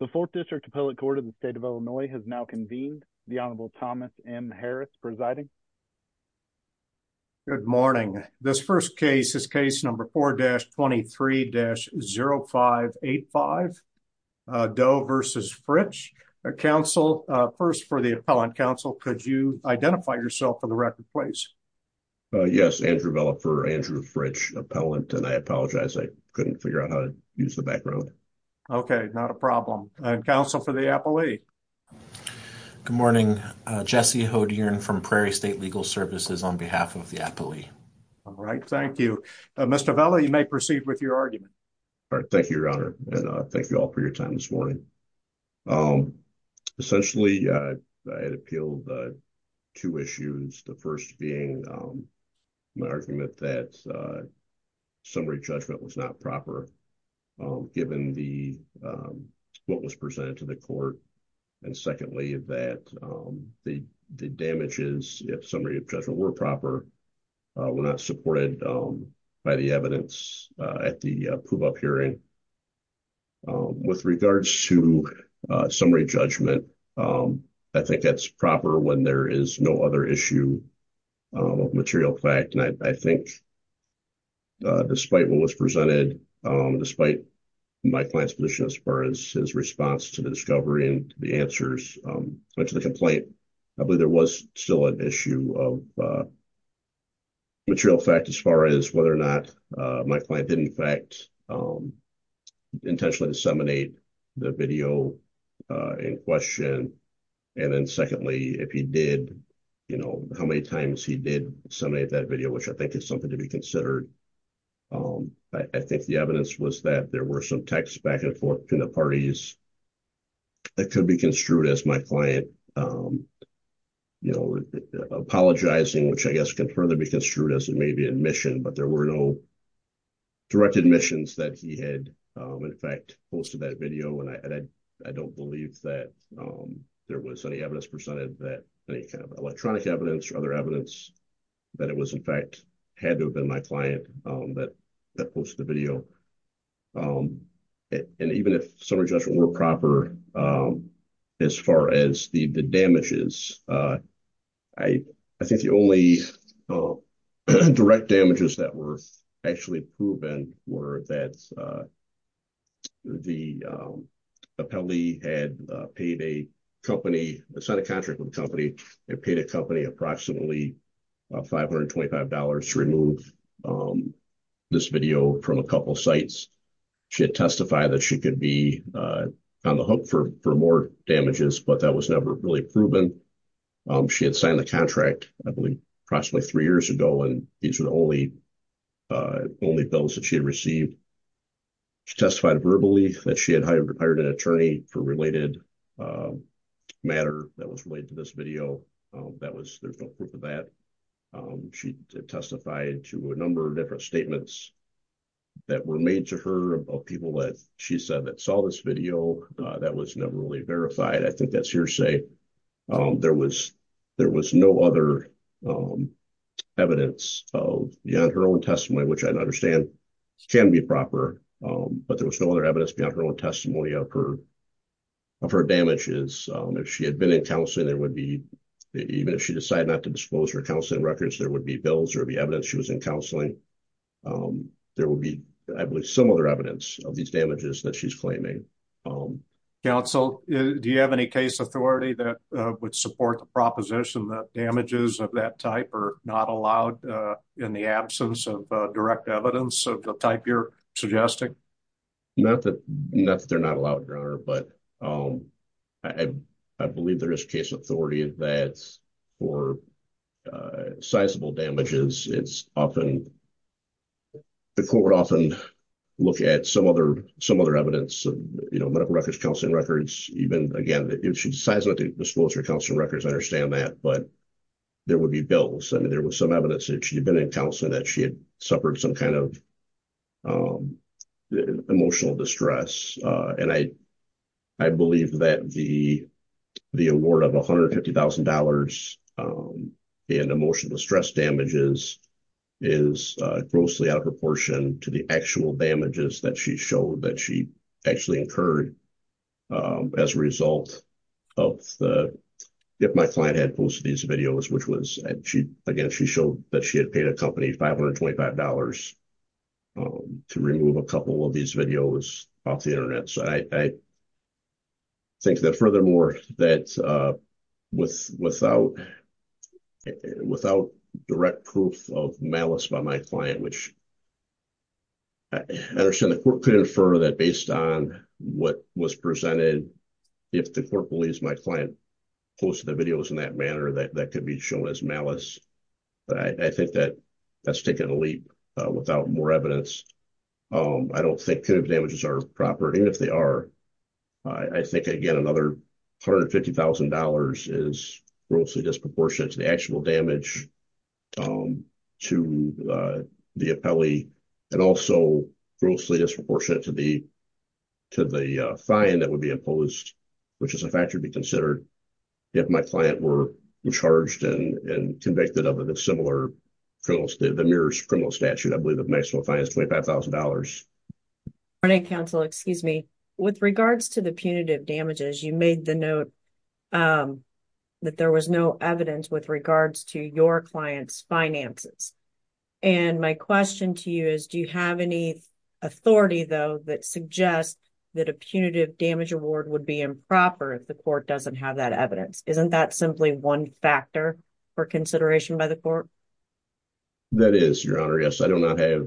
The 4th District Appellate Court of the State of Illinois has now convened. The Honorable Thomas M. Harris presiding. Good morning. This first case is case number 4-23-0585. Doe v. Fritch. Counsel, first for the appellant. Counsel, could you identify yourself for the record, please? Yes, Andrew Vela for Andrew Fritch, appellant, and I apologize. I couldn't figure out how to use the background. Okay, not a problem. Counsel for the appellee. Good morning. Jesse Hodirn from Prairie State Legal Services on behalf of the appellee. All right. Thank you. Mr. Vela, you may proceed with your argument. Thank you, Your Honor, and thank you all for your time this morning. Essentially, I had appealed two issues. The first being my argument that summary judgment was not proper, given what was presented to the court. And secondly, that the damages, if summary of judgment were proper, were not supported by the evidence at the prove-up hearing. With regards to summary judgment, I think that's proper when there is no other issue of material fact. And I think, despite what was presented, despite my client's position as far as his response to the discovery and the answers to the complaint, I believe there was still an issue of material fact as far as whether or not my client did, in fact, intentionally disseminate the video in question. And then secondly, if he did, you know, how many times he did disseminate that video, which I think is something to be considered. I think the evidence was that there were some texts back and forth between the parties that could be construed as my client apologizing, which I guess can further be construed as maybe admission, but there were no direct admissions that he had, in fact, posted that video. And I don't believe that there was any evidence presented that any kind of electronic evidence or other evidence that it was, in fact, had to have been my client that posted the video. And even if summary judgment were proper, as far as the damages, I think the only direct damages that were actually proven were that the appellee had paid a company, signed a contract with a company, and paid a company approximately $525 to remove this video from a couple of sites. She had testified that she could be on the hook for more damages, but that was never really proven. She had signed the contract, I believe, approximately three years ago, and these were the only bills that she had received. She testified verbally that she had hired an attorney for a related matter that was related to this video. There's no proof of that. She testified to a number of different statements that were made to her of people that she said that saw this video. That was never really verified. I think that's hearsay. There was no other evidence beyond her own testimony, which I understand can be proper, but there was no other evidence beyond her own testimony of her damages. If she had been in counseling, even if she decided not to disclose her counseling records, there would be bills, there would be evidence she was in counseling. There would be, I believe, some other evidence of these damages that she's claiming. Counsel, do you have any case authority that would support the proposition that damages of that type are not allowed in the absence of direct evidence of the type you're suggesting? Not that they're not allowed, Your Honor. I believe there is case authority that for sizable damages, the court would often look at some other evidence, medical records, counseling records. Again, if she decides not to disclose her counseling records, I understand that, but there would be bills. There was some evidence that she had been in counseling that she had suffered some kind of emotional distress. I believe that the award of $150,000 in emotional distress damages is grossly out of proportion to the actual damages that she showed, that she actually incurred as a result of the... I think that furthermore, that without direct proof of malice by my client, which I understand the court could infer that based on what was presented, if the court believes my client posted the videos in that manner, that could be shown as malice. I think that that's taking a leap without more evidence. I don't think kind of damages are proper. Even if they are, I think, again, another $150,000 is grossly disproportionate to the actual damage to the appellee and also grossly disproportionate to the fine that would be imposed, which is a factor to be considered. If my client were charged and convicted of a similar criminal, the MERS criminal statute, I believe the maximum fine is $25,000. With regards to the punitive damages, you made the note that there was no evidence with regards to your client's finances. My question to you is, do you have any authority, though, that suggests that a punitive damage award would be improper if the court doesn't have that evidence? Isn't that simply one factor for consideration by the court? That is, Your Honor. Yes, I do not have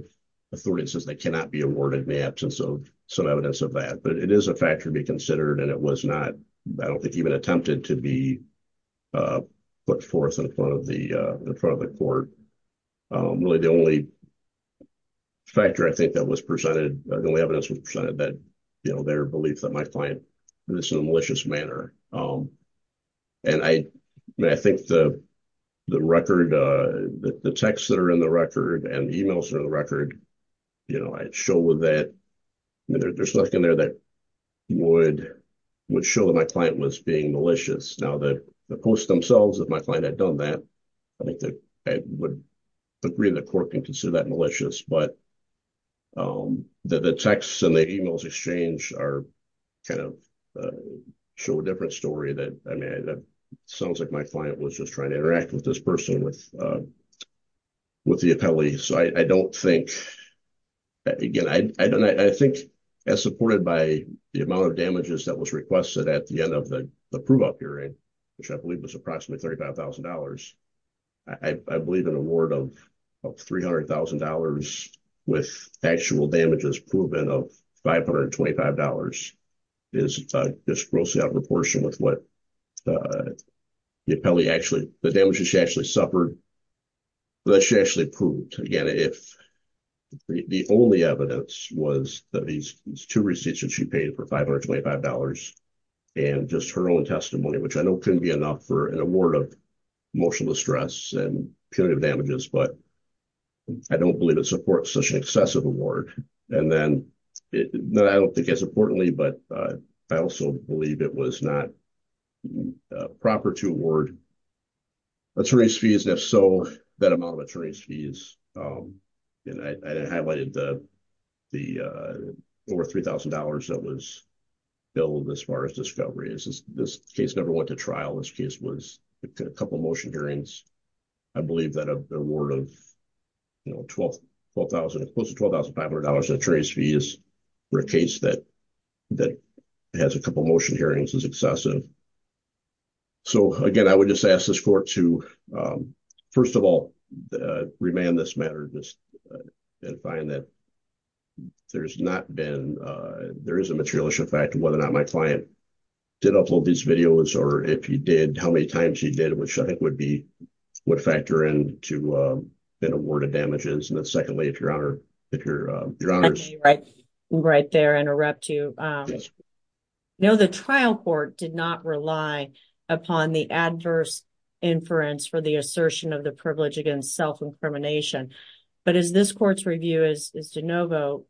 authority that says they cannot be awarded in the absence of some evidence of that. But it is a factor to be considered, and it was not, I don't think, even attempted to be put forth in front of the court. Really, the only factor I think that was presented, the only evidence that was presented, their belief that my client did this in a malicious manner. And I think the record, the texts that are in the record and the emails that are in the record show that there's nothing in there that would show that my client was being malicious. Now, the posts themselves that my client had done that, I think that I would agree that the court can consider that malicious. But the texts and the emails exchanged are kind of show a different story. I mean, it sounds like my client was just trying to interact with this person with the appellees. So I don't think, again, I think as supported by the amount of damages that was requested at the end of the prove-out hearing, which I believe was approximately $35,000. I believe an award of $300,000 with actual damages proven of $525 is grossly out of proportion with what the appellee actually, the damages she actually suffered. That she actually proved. Again, if the only evidence was that these two receipts that she paid for $525 and just her own testimony, which I know couldn't be enough for an award of emotional distress and punitive damages, but I don't believe it supports such an excessive award. And then I don't think as importantly, but I also believe it was not proper to award attorney's fees. And if so, that amount of attorney's fees, and I highlighted the over $3,000 that was billed as far as discovery. This case never went to trial. This case was a couple of motion hearings. I believe that an award of close to $12,500 in attorney's fees for a case that has a couple of motion hearings is excessive. So again, I would just ask this court to, first of all, remand this matter. Just find that there's not been, there is a materialist effect of whether or not my client did upload these videos or if he did, how many times he did, which I think would factor in to an award of damages. And then secondly, if your honor, if your, your honors. Right, right there interrupt you. No, the trial court did not rely upon the adverse inference for the assertion of the privilege against self-incrimination. But as this court's review is de novo,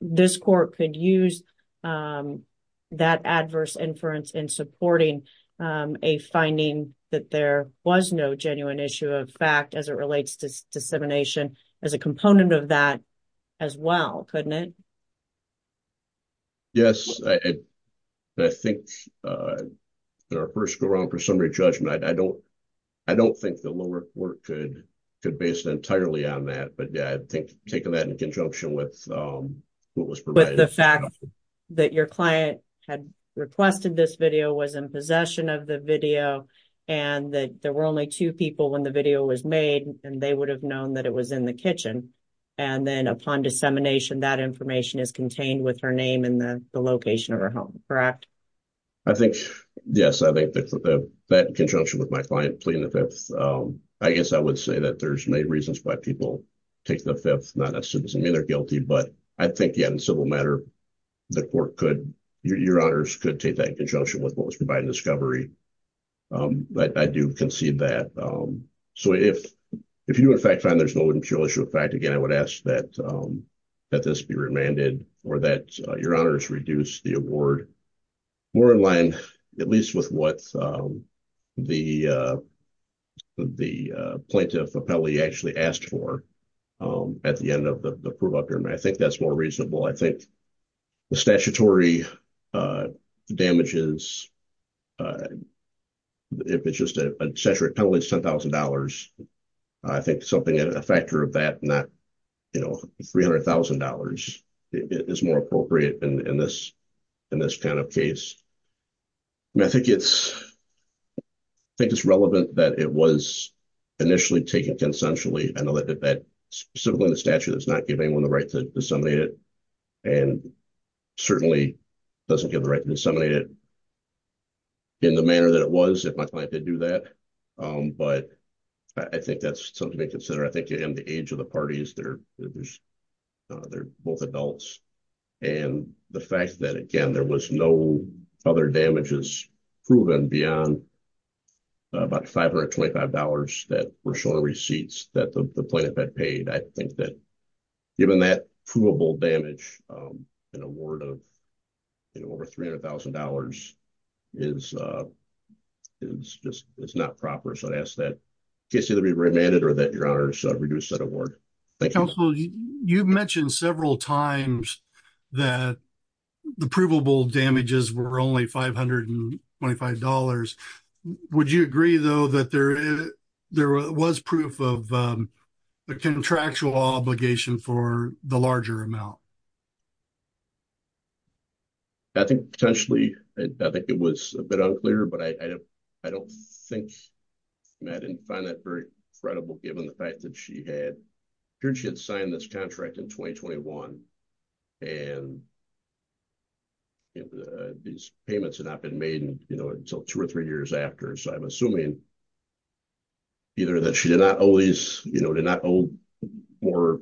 this court could use that adverse inference in supporting a finding that there was no genuine issue of fact as it relates to dissemination as a component of that as well. Couldn't it? Yes. I think there are first go wrong for summary judgment. I don't, I don't think the lower court could could based entirely on that. But yeah, I think taking that in conjunction with what was provided. The fact that your client had requested this video was in possession of the video, and that there were only 2 people when the video was made, and they would have known that it was in the kitchen. And then upon dissemination that information is contained with her name and the location of her home. Correct. I think, yes, I think that that conjunction with my client pleading the 5th. I guess I would say that there's many reasons why people take the 5th, not assuming they're guilty, but I think, yeah, in civil matter. The court could your honors could take that conjunction with what was provided discovery. But I do concede that. So, if, if you in fact find there's no issue, in fact, again, I would ask that, that this be remanded, or that your honors reduce the award. More in line, at least with what the, the plaintiff appellee actually asked for. At the end of the prove up here and I think that's more reasonable I think the statutory damages. If it's just a century, it's $10,000. I think something that a factor of that, not, you know, $300,000 is more appropriate in this, in this kind of case. I think it's. I think it's relevant that it was initially taken consensually. I know that that specifically the statute is not giving them the right to disseminate it. And certainly doesn't give the right to disseminate it in the manner that it was if my client did do that. But I think that's something to consider. I think in the age of the parties, they're, they're both adults. And the fact that, again, there was no other damages proven beyond about $525 that were showing receipts that the plaintiff had paid. I think that given that provable damage, an award of over $300,000 is, is just, it's not proper. So I ask that case either be remanded or that your honors reduce that award. You mentioned several times that the provable damages were only $525. Would you agree, though, that there, there was proof of the contractual obligation for the larger amount? I think potentially, I think it was a bit unclear, but I, I don't, I don't think Matt didn't find that very credible, given the fact that she had, she had signed this contract in 2021. And these payments had not been made, you know, until two or three years after. So I'm assuming either that she did not always, you know, did not owe more,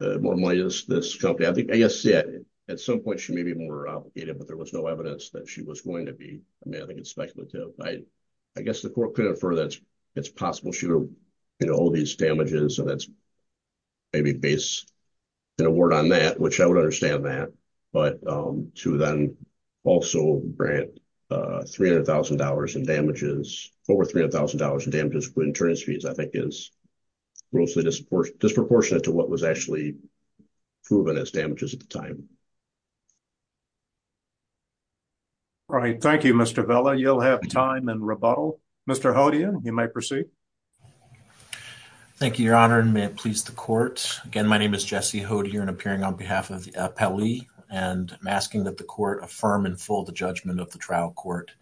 more money to this company. I think, I guess, yeah, at some point, she may be more obligated, but there was no evidence that she was going to be. I mean, I think it's speculative. I guess the court could infer that it's possible she would owe these damages. So that's maybe based an award on that, which I would understand that. But to then also grant $300,000 in damages, over $300,000 in damages with insurance fees, I think is grossly disproportionate to what was actually proven as damages at the time. All right, thank you, Mr. Vela. You'll have time and rebuttal. Mr. Hodia, you may proceed. Thank you, Your Honor, and may it please the court. Again, my name is Jesse Hodia, and I'm appearing on behalf of the appellee, and I'm asking that the court affirm in full the judgment of the trial court.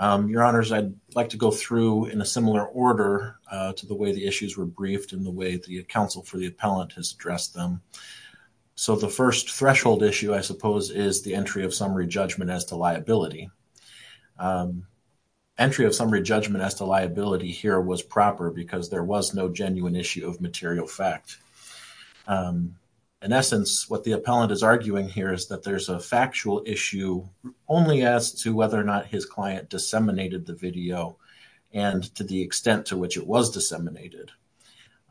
Your Honors, I'd like to go through in a similar order to the way the issues were briefed in the way the counsel for the appellant has addressed them. So the first threshold issue, I suppose, is the entry of summary judgment as to liability. Entry of summary judgment as to liability here was proper because there was no genuine issue of material fact. In essence, what the appellant is arguing here is that there's a factual issue only as to whether or not his client disseminated the video and to the extent to which it was disseminated.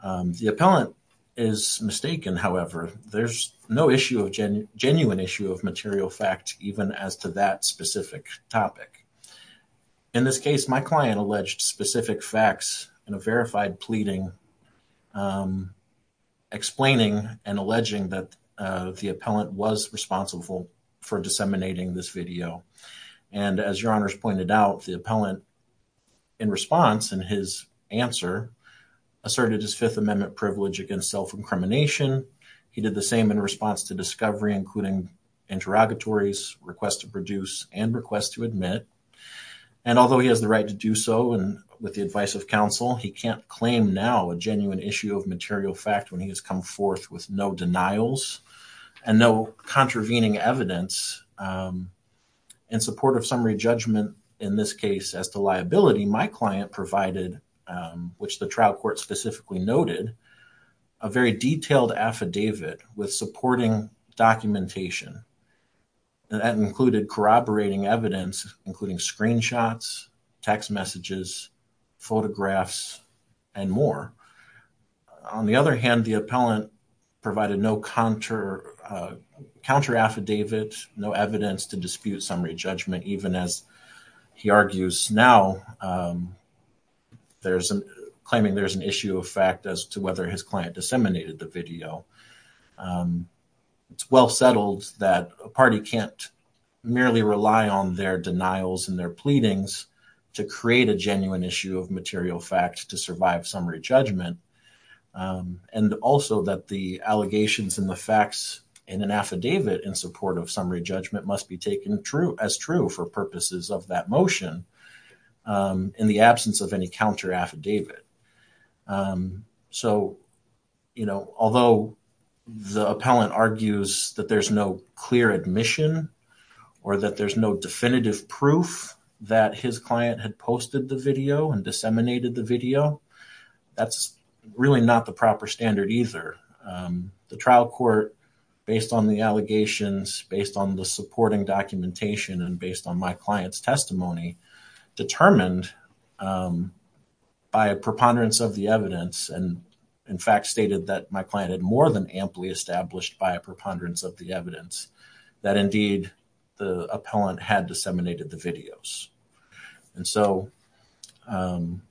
The appellant is mistaken, however. There's no issue of genuine issue of material fact even as to that specific topic. In this case, my client alleged specific facts in a verified pleading, explaining and alleging that the appellant was responsible for disseminating this video. As Your Honors pointed out, the appellant, in response, in his answer, asserted his Fifth Amendment privilege against self-incrimination. He did the same in response to discovery, including interrogatories, request to produce, and request to admit. And although he has the right to do so with the advice of counsel, he can't claim now a genuine issue of material fact when he has come forth with no denials and no contravening evidence. In support of summary judgment, in this case, as to liability, my client provided, which the trial court specifically noted, a very detailed affidavit with supporting documentation. That included corroborating evidence, including screenshots, text messages, photographs, and more. On the other hand, the appellant provided no counter affidavit, no evidence to dispute summary judgment, even as he argues now, claiming there's an issue of fact as to whether his client disseminated the video. It's well settled that a party can't merely rely on their denials and their pleadings to create a genuine issue of material fact to survive summary judgment. And also that the allegations and the facts in an affidavit in support of summary judgment must be taken as true for purposes of that motion in the absence of any counter affidavit. So, you know, although the appellant argues that there's no clear admission or that there's no definitive proof that his client had posted the video and disseminated the video, that's really not the proper standard either. The trial court, based on the allegations, based on the supporting documentation, and based on my client's testimony, determined by a preponderance of the evidence, and in fact stated that my client had more than amply established by a preponderance of the evidence, that indeed the appellant had disseminated the videos. And so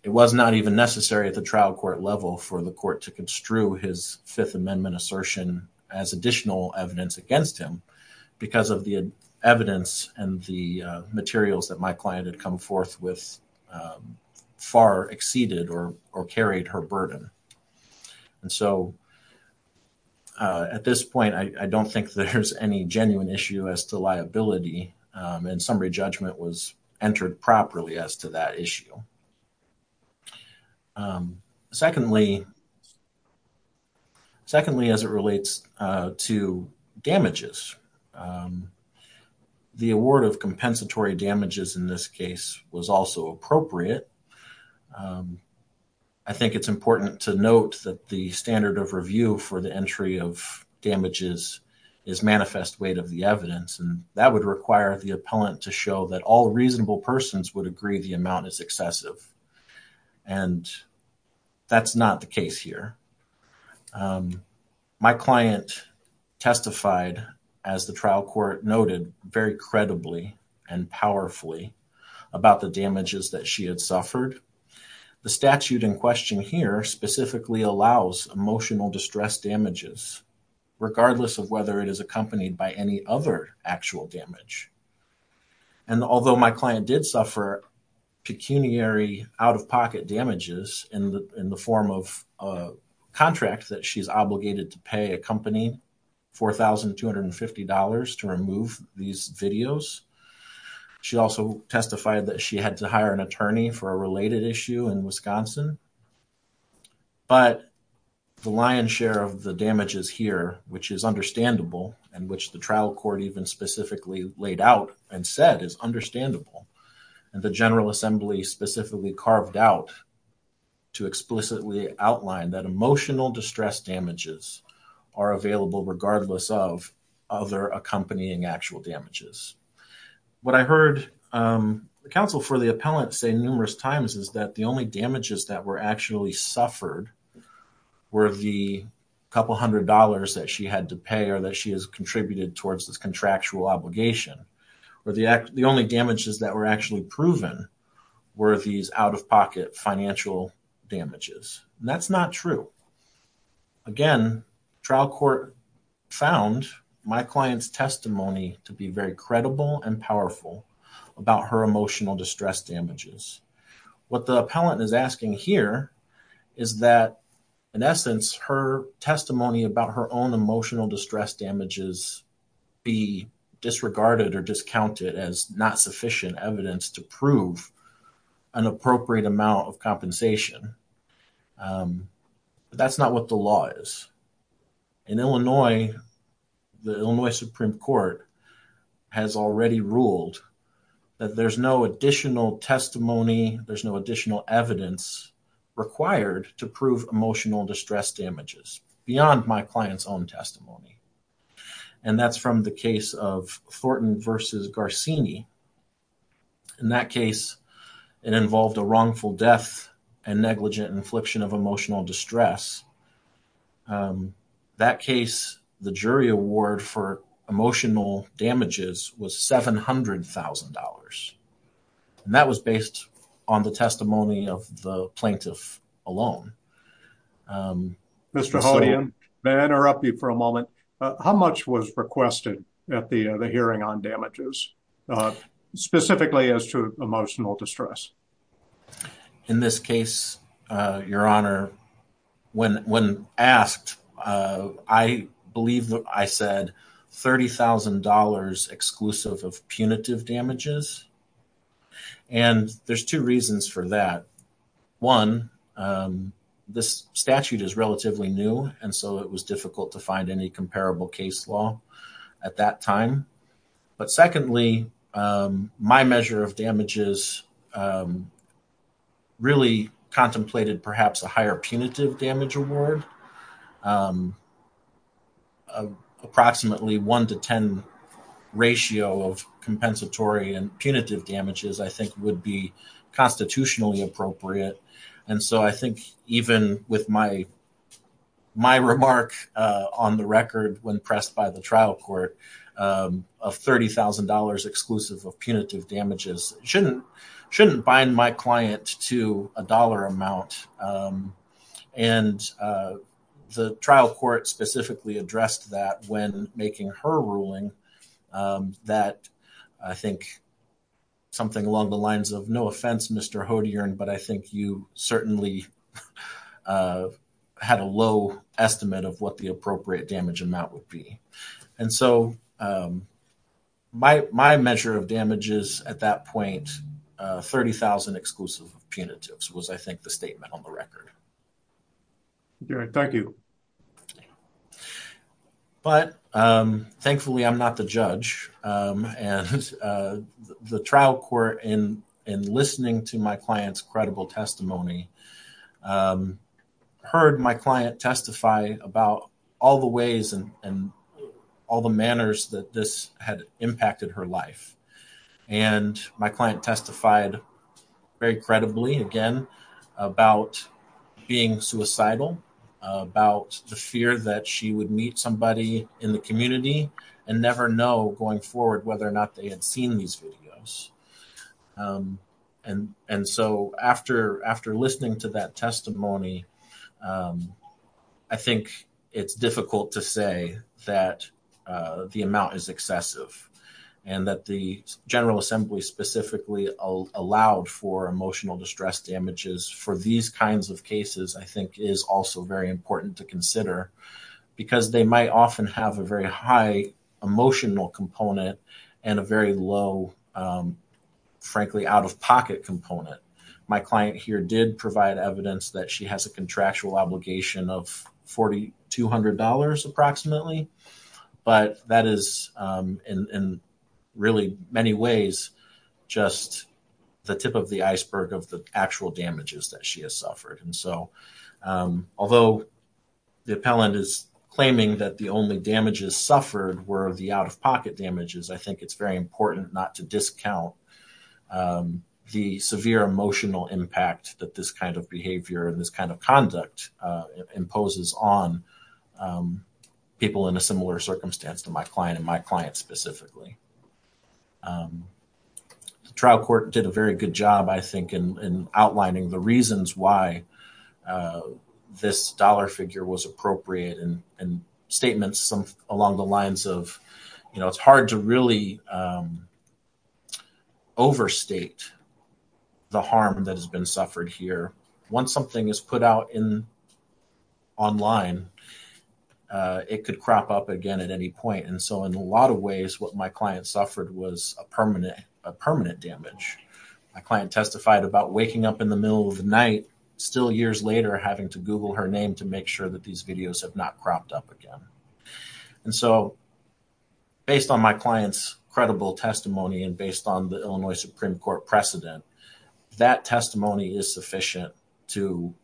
it was not even necessary at the trial court level for the court to construe his Fifth Amendment assertion as additional evidence against him because of the evidence and the materials that my client had come forth with far exceeded or carried her burden. And so at this point, I don't think there's any genuine issue as to liability and summary judgment was entered properly as to that issue. Secondly, as it relates to damages, the award of compensatory damages in this case was also appropriate. I think it's important to note that the standard of review for the entry of damages is manifest weight of the evidence, and that would require the appellant to show that all reasonable persons would agree the amount is excessive, and that's not the case here. My client testified, as the trial court noted, very credibly and powerfully about the damages that she had suffered. The statute in question here specifically allows emotional distress damages, regardless of whether it is accompanied by any other actual damage. And although my client did suffer pecuniary out-of-pocket damages in the form of a contract that she's obligated to pay a company $4,250 to remove these videos, she also testified that she had to hire an attorney for a related issue in Wisconsin. But the lion's share of the damages here, which is understandable, and which the trial court even specifically laid out and said is understandable, and the General Assembly specifically carved out to explicitly outline that emotional distress damages are available regardless of other accompanying actual damages. What I heard the counsel for the appellant say numerous times is that the only damages that were actually suffered were the couple hundred dollars that she had to pay or that she has contributed towards this contractual obligation, or the only damages that were actually proven were these out-of-pocket financial damages, and that's not true. Again, trial court found my client's testimony to be very credible and powerful about her emotional distress damages. What the appellant is asking here is that, in essence, her testimony about her own emotional distress damages be disregarded or discounted as not sufficient evidence to prove an appropriate amount of compensation. That's not what the law is. In Illinois, the Illinois Supreme Court has already ruled that there's no additional testimony, there's no additional evidence required to prove emotional distress damages beyond my client's own testimony. And that's from the case of Thornton v. Garcini. In that case, it involved a wrongful death and negligent infliction of emotional distress. That case, the jury award for emotional damages was $700,000, and that was based on the testimony of the plaintiff alone. Mr. Hodian, may I interrupt you for a moment? How much was requested at the hearing on damages, specifically as to emotional distress? In this case, Your Honor, when asked, I believe I said $30,000 exclusive of punitive damages. And there's two reasons for that. One, this statute is relatively new, and so it was difficult to find any comparable case law at that time. But secondly, my measure of damages really contemplated perhaps a higher punitive damage award. Approximately 1 to 10 ratio of compensatory and punitive damages, I think, would be constitutionally appropriate. And so I think even with my remark on the record when pressed by the trial court of $30,000 exclusive of punitive damages shouldn't bind my client to a dollar amount. And the trial court specifically addressed that when making her ruling that I think something along the lines of, no offense, Mr. Hodian, but I think you certainly had a low estimate of what the appropriate damage amount would be. And so my measure of damages at that point, $30,000 exclusive of punitives was, I think, the statement on the record. Your Honor, thank you. But thankfully, I'm not the judge, and the trial court, in listening to my client's credible testimony, heard my client testify about all the ways and all the manners that this had impacted her life. And my client testified very credibly, again, about being suicidal, about the fear that she would meet somebody in the community and never know going forward whether or not they had seen these videos. And so after listening to that testimony, I think it's difficult to say that the amount is excessive and that the General Assembly specifically allowed for emotional distress damages for these kinds of cases, I think, is also very important to consider. Because they might often have a very high emotional component and a very low, frankly, out-of-pocket component. My client here did provide evidence that she has a contractual obligation of $4,200 approximately. But that is, in really many ways, just the tip of the iceberg of the actual damages that she has suffered. And so although the appellant is claiming that the only damages suffered were the out-of-pocket damages, I think it's very important not to discount the severe emotional impact that this kind of behavior and this kind of conduct imposes on people in a similar circumstance to my client and my client specifically. The trial court did a very good job, I think, in outlining the reasons why this dollar figure was appropriate and statements along the lines of, you know, it's hard to really overstate the harm that has been suffered here. Once something is put out online, it could crop up again at any point. And so in a lot of ways, what my client suffered was a permanent damage. My client testified about waking up in the middle of the night, still years later, having to Google her name to make sure that these videos have not cropped up again. And so based on my client's credible testimony and based on the Illinois Supreme Court precedent, that testimony is sufficient to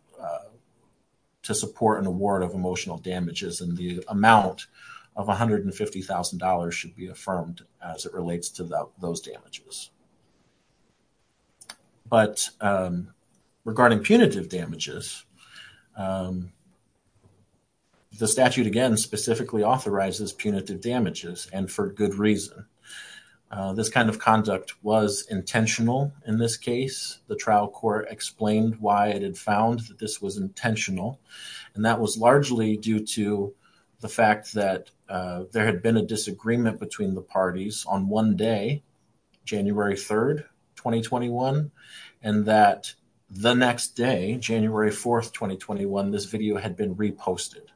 support an award of emotional damages. And the amount of $150,000 should be affirmed as it relates to those damages. But regarding punitive damages, the statute, again, specifically authorizes punitive damages and for good reason. This kind of conduct was intentional in this case. The trial court explained why it had found that this was intentional, and that was largely due to the fact that there had been a disagreement between the parties on one day, January 3rd, 2021, and that the next day, January 4th, 2021, this video had been reposted.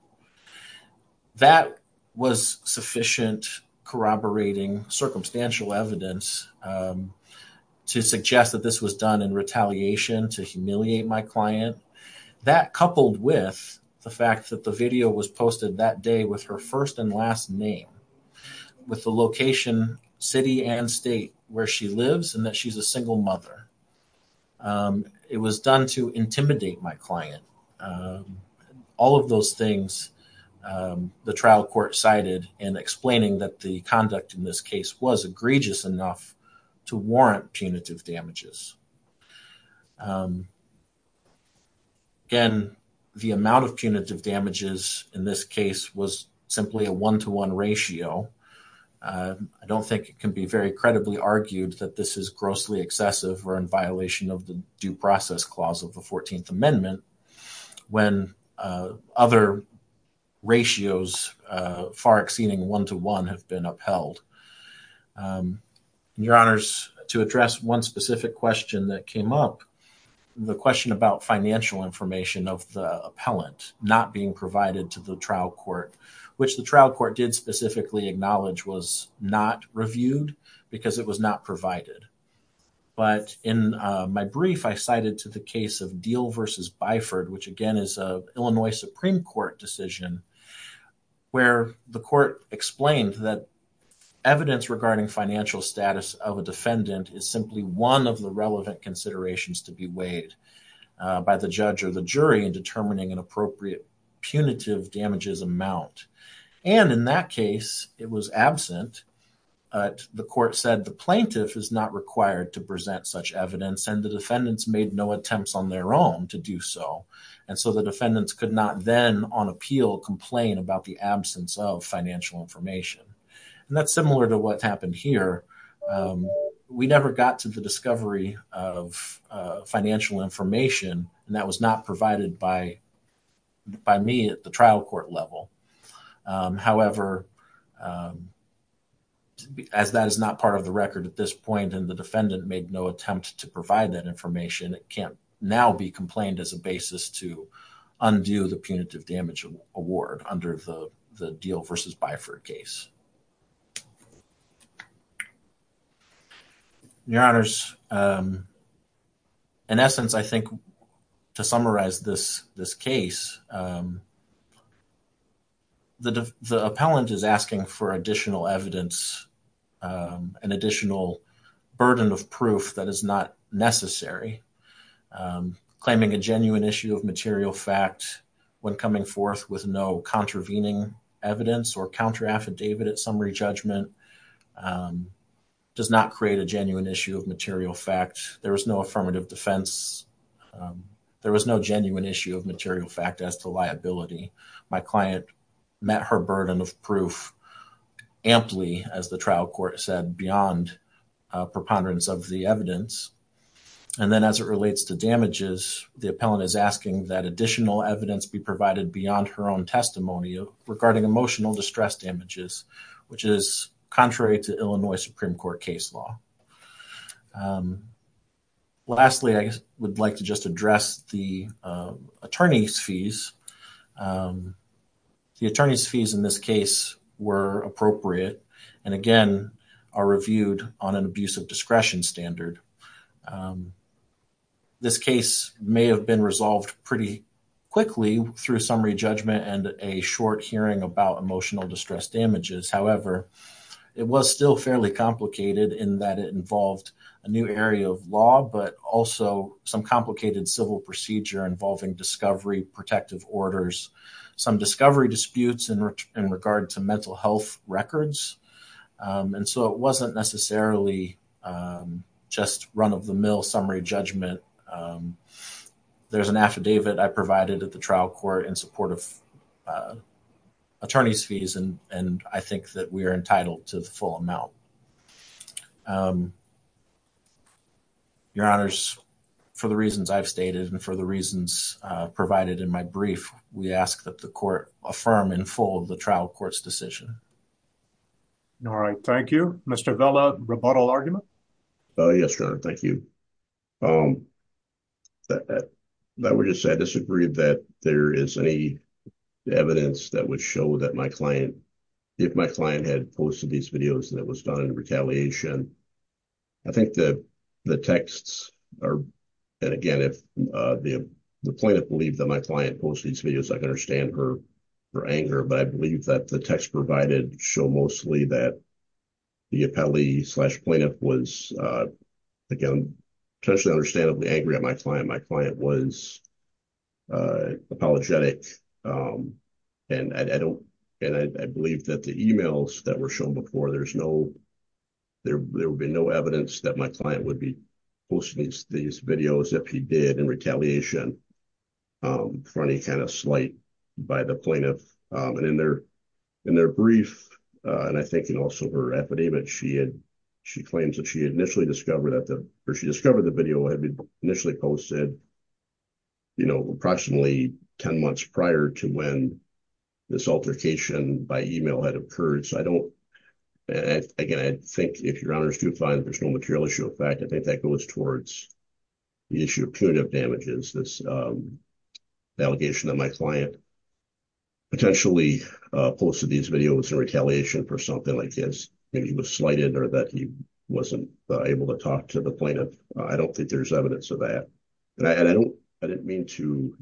That was sufficient corroborating circumstantial evidence to suggest that this was done in retaliation to humiliate my client. That, coupled with the fact that the video was posted that day with her first and last name, with the location, city, and state where she lives, and that she's a single mother, it was done to intimidate my client. All of those things, the trial court cited in explaining that the conduct in this case was egregious enough to warrant punitive damages. Again, the amount of punitive damages in this case was simply a one-to-one ratio. I don't think it can be very credibly argued that this is grossly excessive or in violation of the due process clause of the 14th Amendment when other ratios far exceeding one-to-one have been upheld. Your Honors, to address one specific question that came up, the question about financial information of the appellant not being provided to the trial court, which the trial court did specifically acknowledge was not reviewed because it was not provided. But in my brief, I cited to the case of Deal v. Byford, which again is an Illinois Supreme Court decision, where the court explained that evidence regarding financial status of a defendant is simply one of the relevant considerations to be weighed by the judge or the jury in determining an appropriate punitive damages amount. And in that case, it was absent. The court said the plaintiff is not required to present such evidence and the defendants made no attempts on their own to do so. And so the defendants could not then on appeal complain about the absence of financial information. And that's similar to what happened here. We never got to the discovery of financial information and that was not provided by me at the trial court level. However, as that is not part of the record at this point and the defendant made no attempt to provide that information, it can't now be complained as a basis to undo the punitive damage award under the Deal v. Byford case. Your Honors, in essence, I think to summarize this case, the appellant is asking for additional evidence, an additional burden of proof that is not necessary, claiming a genuine issue of material fact when coming forth with no contravening evidence or counter affidavit at summary judgment. It does not create a genuine issue of material fact. There was no affirmative defense. There was no genuine issue of material fact as to liability. My client met her burden of proof amply, as the trial court said, beyond preponderance of the evidence. And then as it relates to damages, the appellant is asking that additional evidence be provided beyond her own testimony regarding emotional distress damages, which is contrary to Illinois Supreme Court case law. Lastly, I would like to just address the attorney's fees. The attorney's fees in this case were appropriate and again are reviewed on an abuse of discretion standard. This case may have been resolved pretty quickly through summary judgment and a short hearing about emotional distress damages. However, it was still fairly complicated in that it involved a new area of law, but also some complicated civil procedure involving discovery, protective orders, some discovery disputes in regard to mental health records. And so it wasn't necessarily just run-of-the-mill summary judgment. There's an affidavit I provided at the trial court in support of attorney's fees, and I think that we are entitled to the full amount. Your Honors, for the reasons I've stated and for the reasons provided in my brief, we ask that the court affirm and fold the trial court's decision. All right. Thank you. Mr. Vella, rebuttal argument? Yes, Your Honor. Thank you. I would just say I disagree that there is any evidence that would show that my client, if my client had posted these videos, that it was done in retaliation. I think that the texts are, and again, if the plaintiff believed that my client posted these videos, I can understand her anger. But I believe that the texts provided show mostly that the appellee-slash-plaintiff was, again, potentially understandably angry at my client. My client was apologetic, and I believe that the emails that were shown before, there would be no evidence that my client would be posting these videos that he did in retaliation for any kind of slight by the plaintiff. And in their brief, and I think in also her affidavit, she claims that she had initially discovered that the video had been initially posted, you know, approximately 10 months prior to when this altercation by email had occurred. So I don't, again, I think if Your Honor is too inclined, there's no material issue. In fact, I think that goes towards the issue of punitive damages. This allegation that my client potentially posted these videos in retaliation for something like this, maybe he was slighted or that he wasn't able to talk to the plaintiff. I don't think there's evidence of that. And I don't, I didn't mean to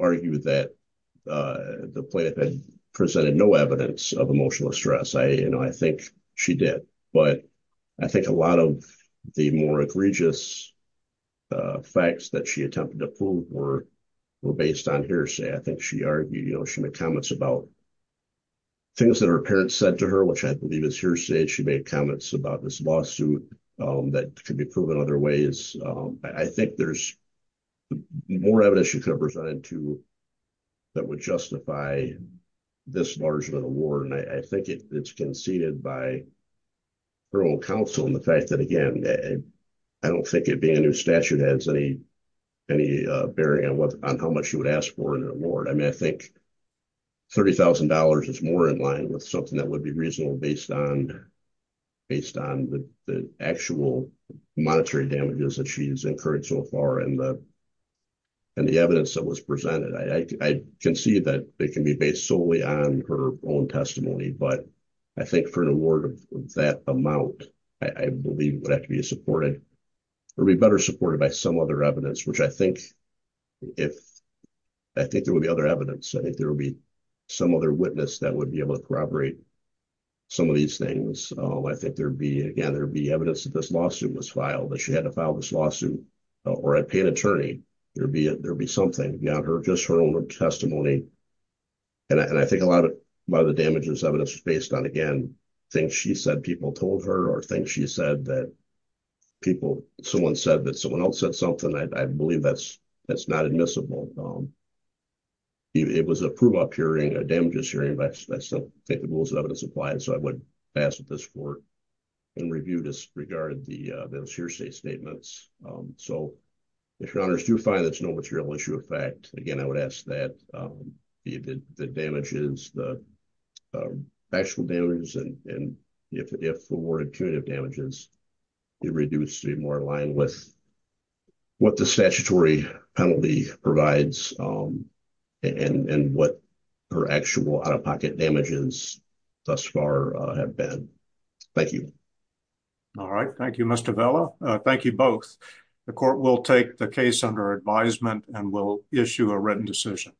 argue that the plaintiff had presented no evidence of emotional stress. I, you know, I think she did, but I think a lot of the more egregious facts that she attempted to prove were based on hearsay. I think she argued, you know, she made comments about things that her parents said to her, which I believe is hearsay. I think she made comments about this lawsuit that could be proven other ways. I think there's more evidence she could have presented to that would justify this large amount of reward. And I think it's conceded by her own counsel and the fact that, again, I don't think it being a new statute has any bearing on how much you would ask for an award. I mean, I think $30,000 is more in line with something that would be reasonable based on the actual monetary damages that she's incurred so far and the evidence that was presented. I can see that it can be based solely on her own testimony, but I think for an award of that amount, I believe it would have to be supported or be better supported by some other evidence, which I think if I think there will be other evidence, I think there will be some other witness that would be able to corroborate some of these things. I think there'd be, again, there'd be evidence that this lawsuit was filed, that she had to file this lawsuit, or I'd pay an attorney. There'd be something beyond her, just her own testimony. And I think a lot of the damages evidence is based on, again, things she said people told her or things she said that people, someone said that someone else said something. I believe that's not admissible. It was a prove-up hearing, a damages hearing, but I still think the rules of evidence apply, so I would ask that this court review this, regard those hearsay statements. So, if your honors do find there's no material issue of fact, again, I would ask that the damages, the actual damages, and if awarded punitive damages be reduced to be more in line with what the statutory penalty provides. And what her actual out-of-pocket damages thus far have been. Thank you. All right. Thank you, Mr. Vela. Thank you both. The court will take the case under advisement and will issue a written decision.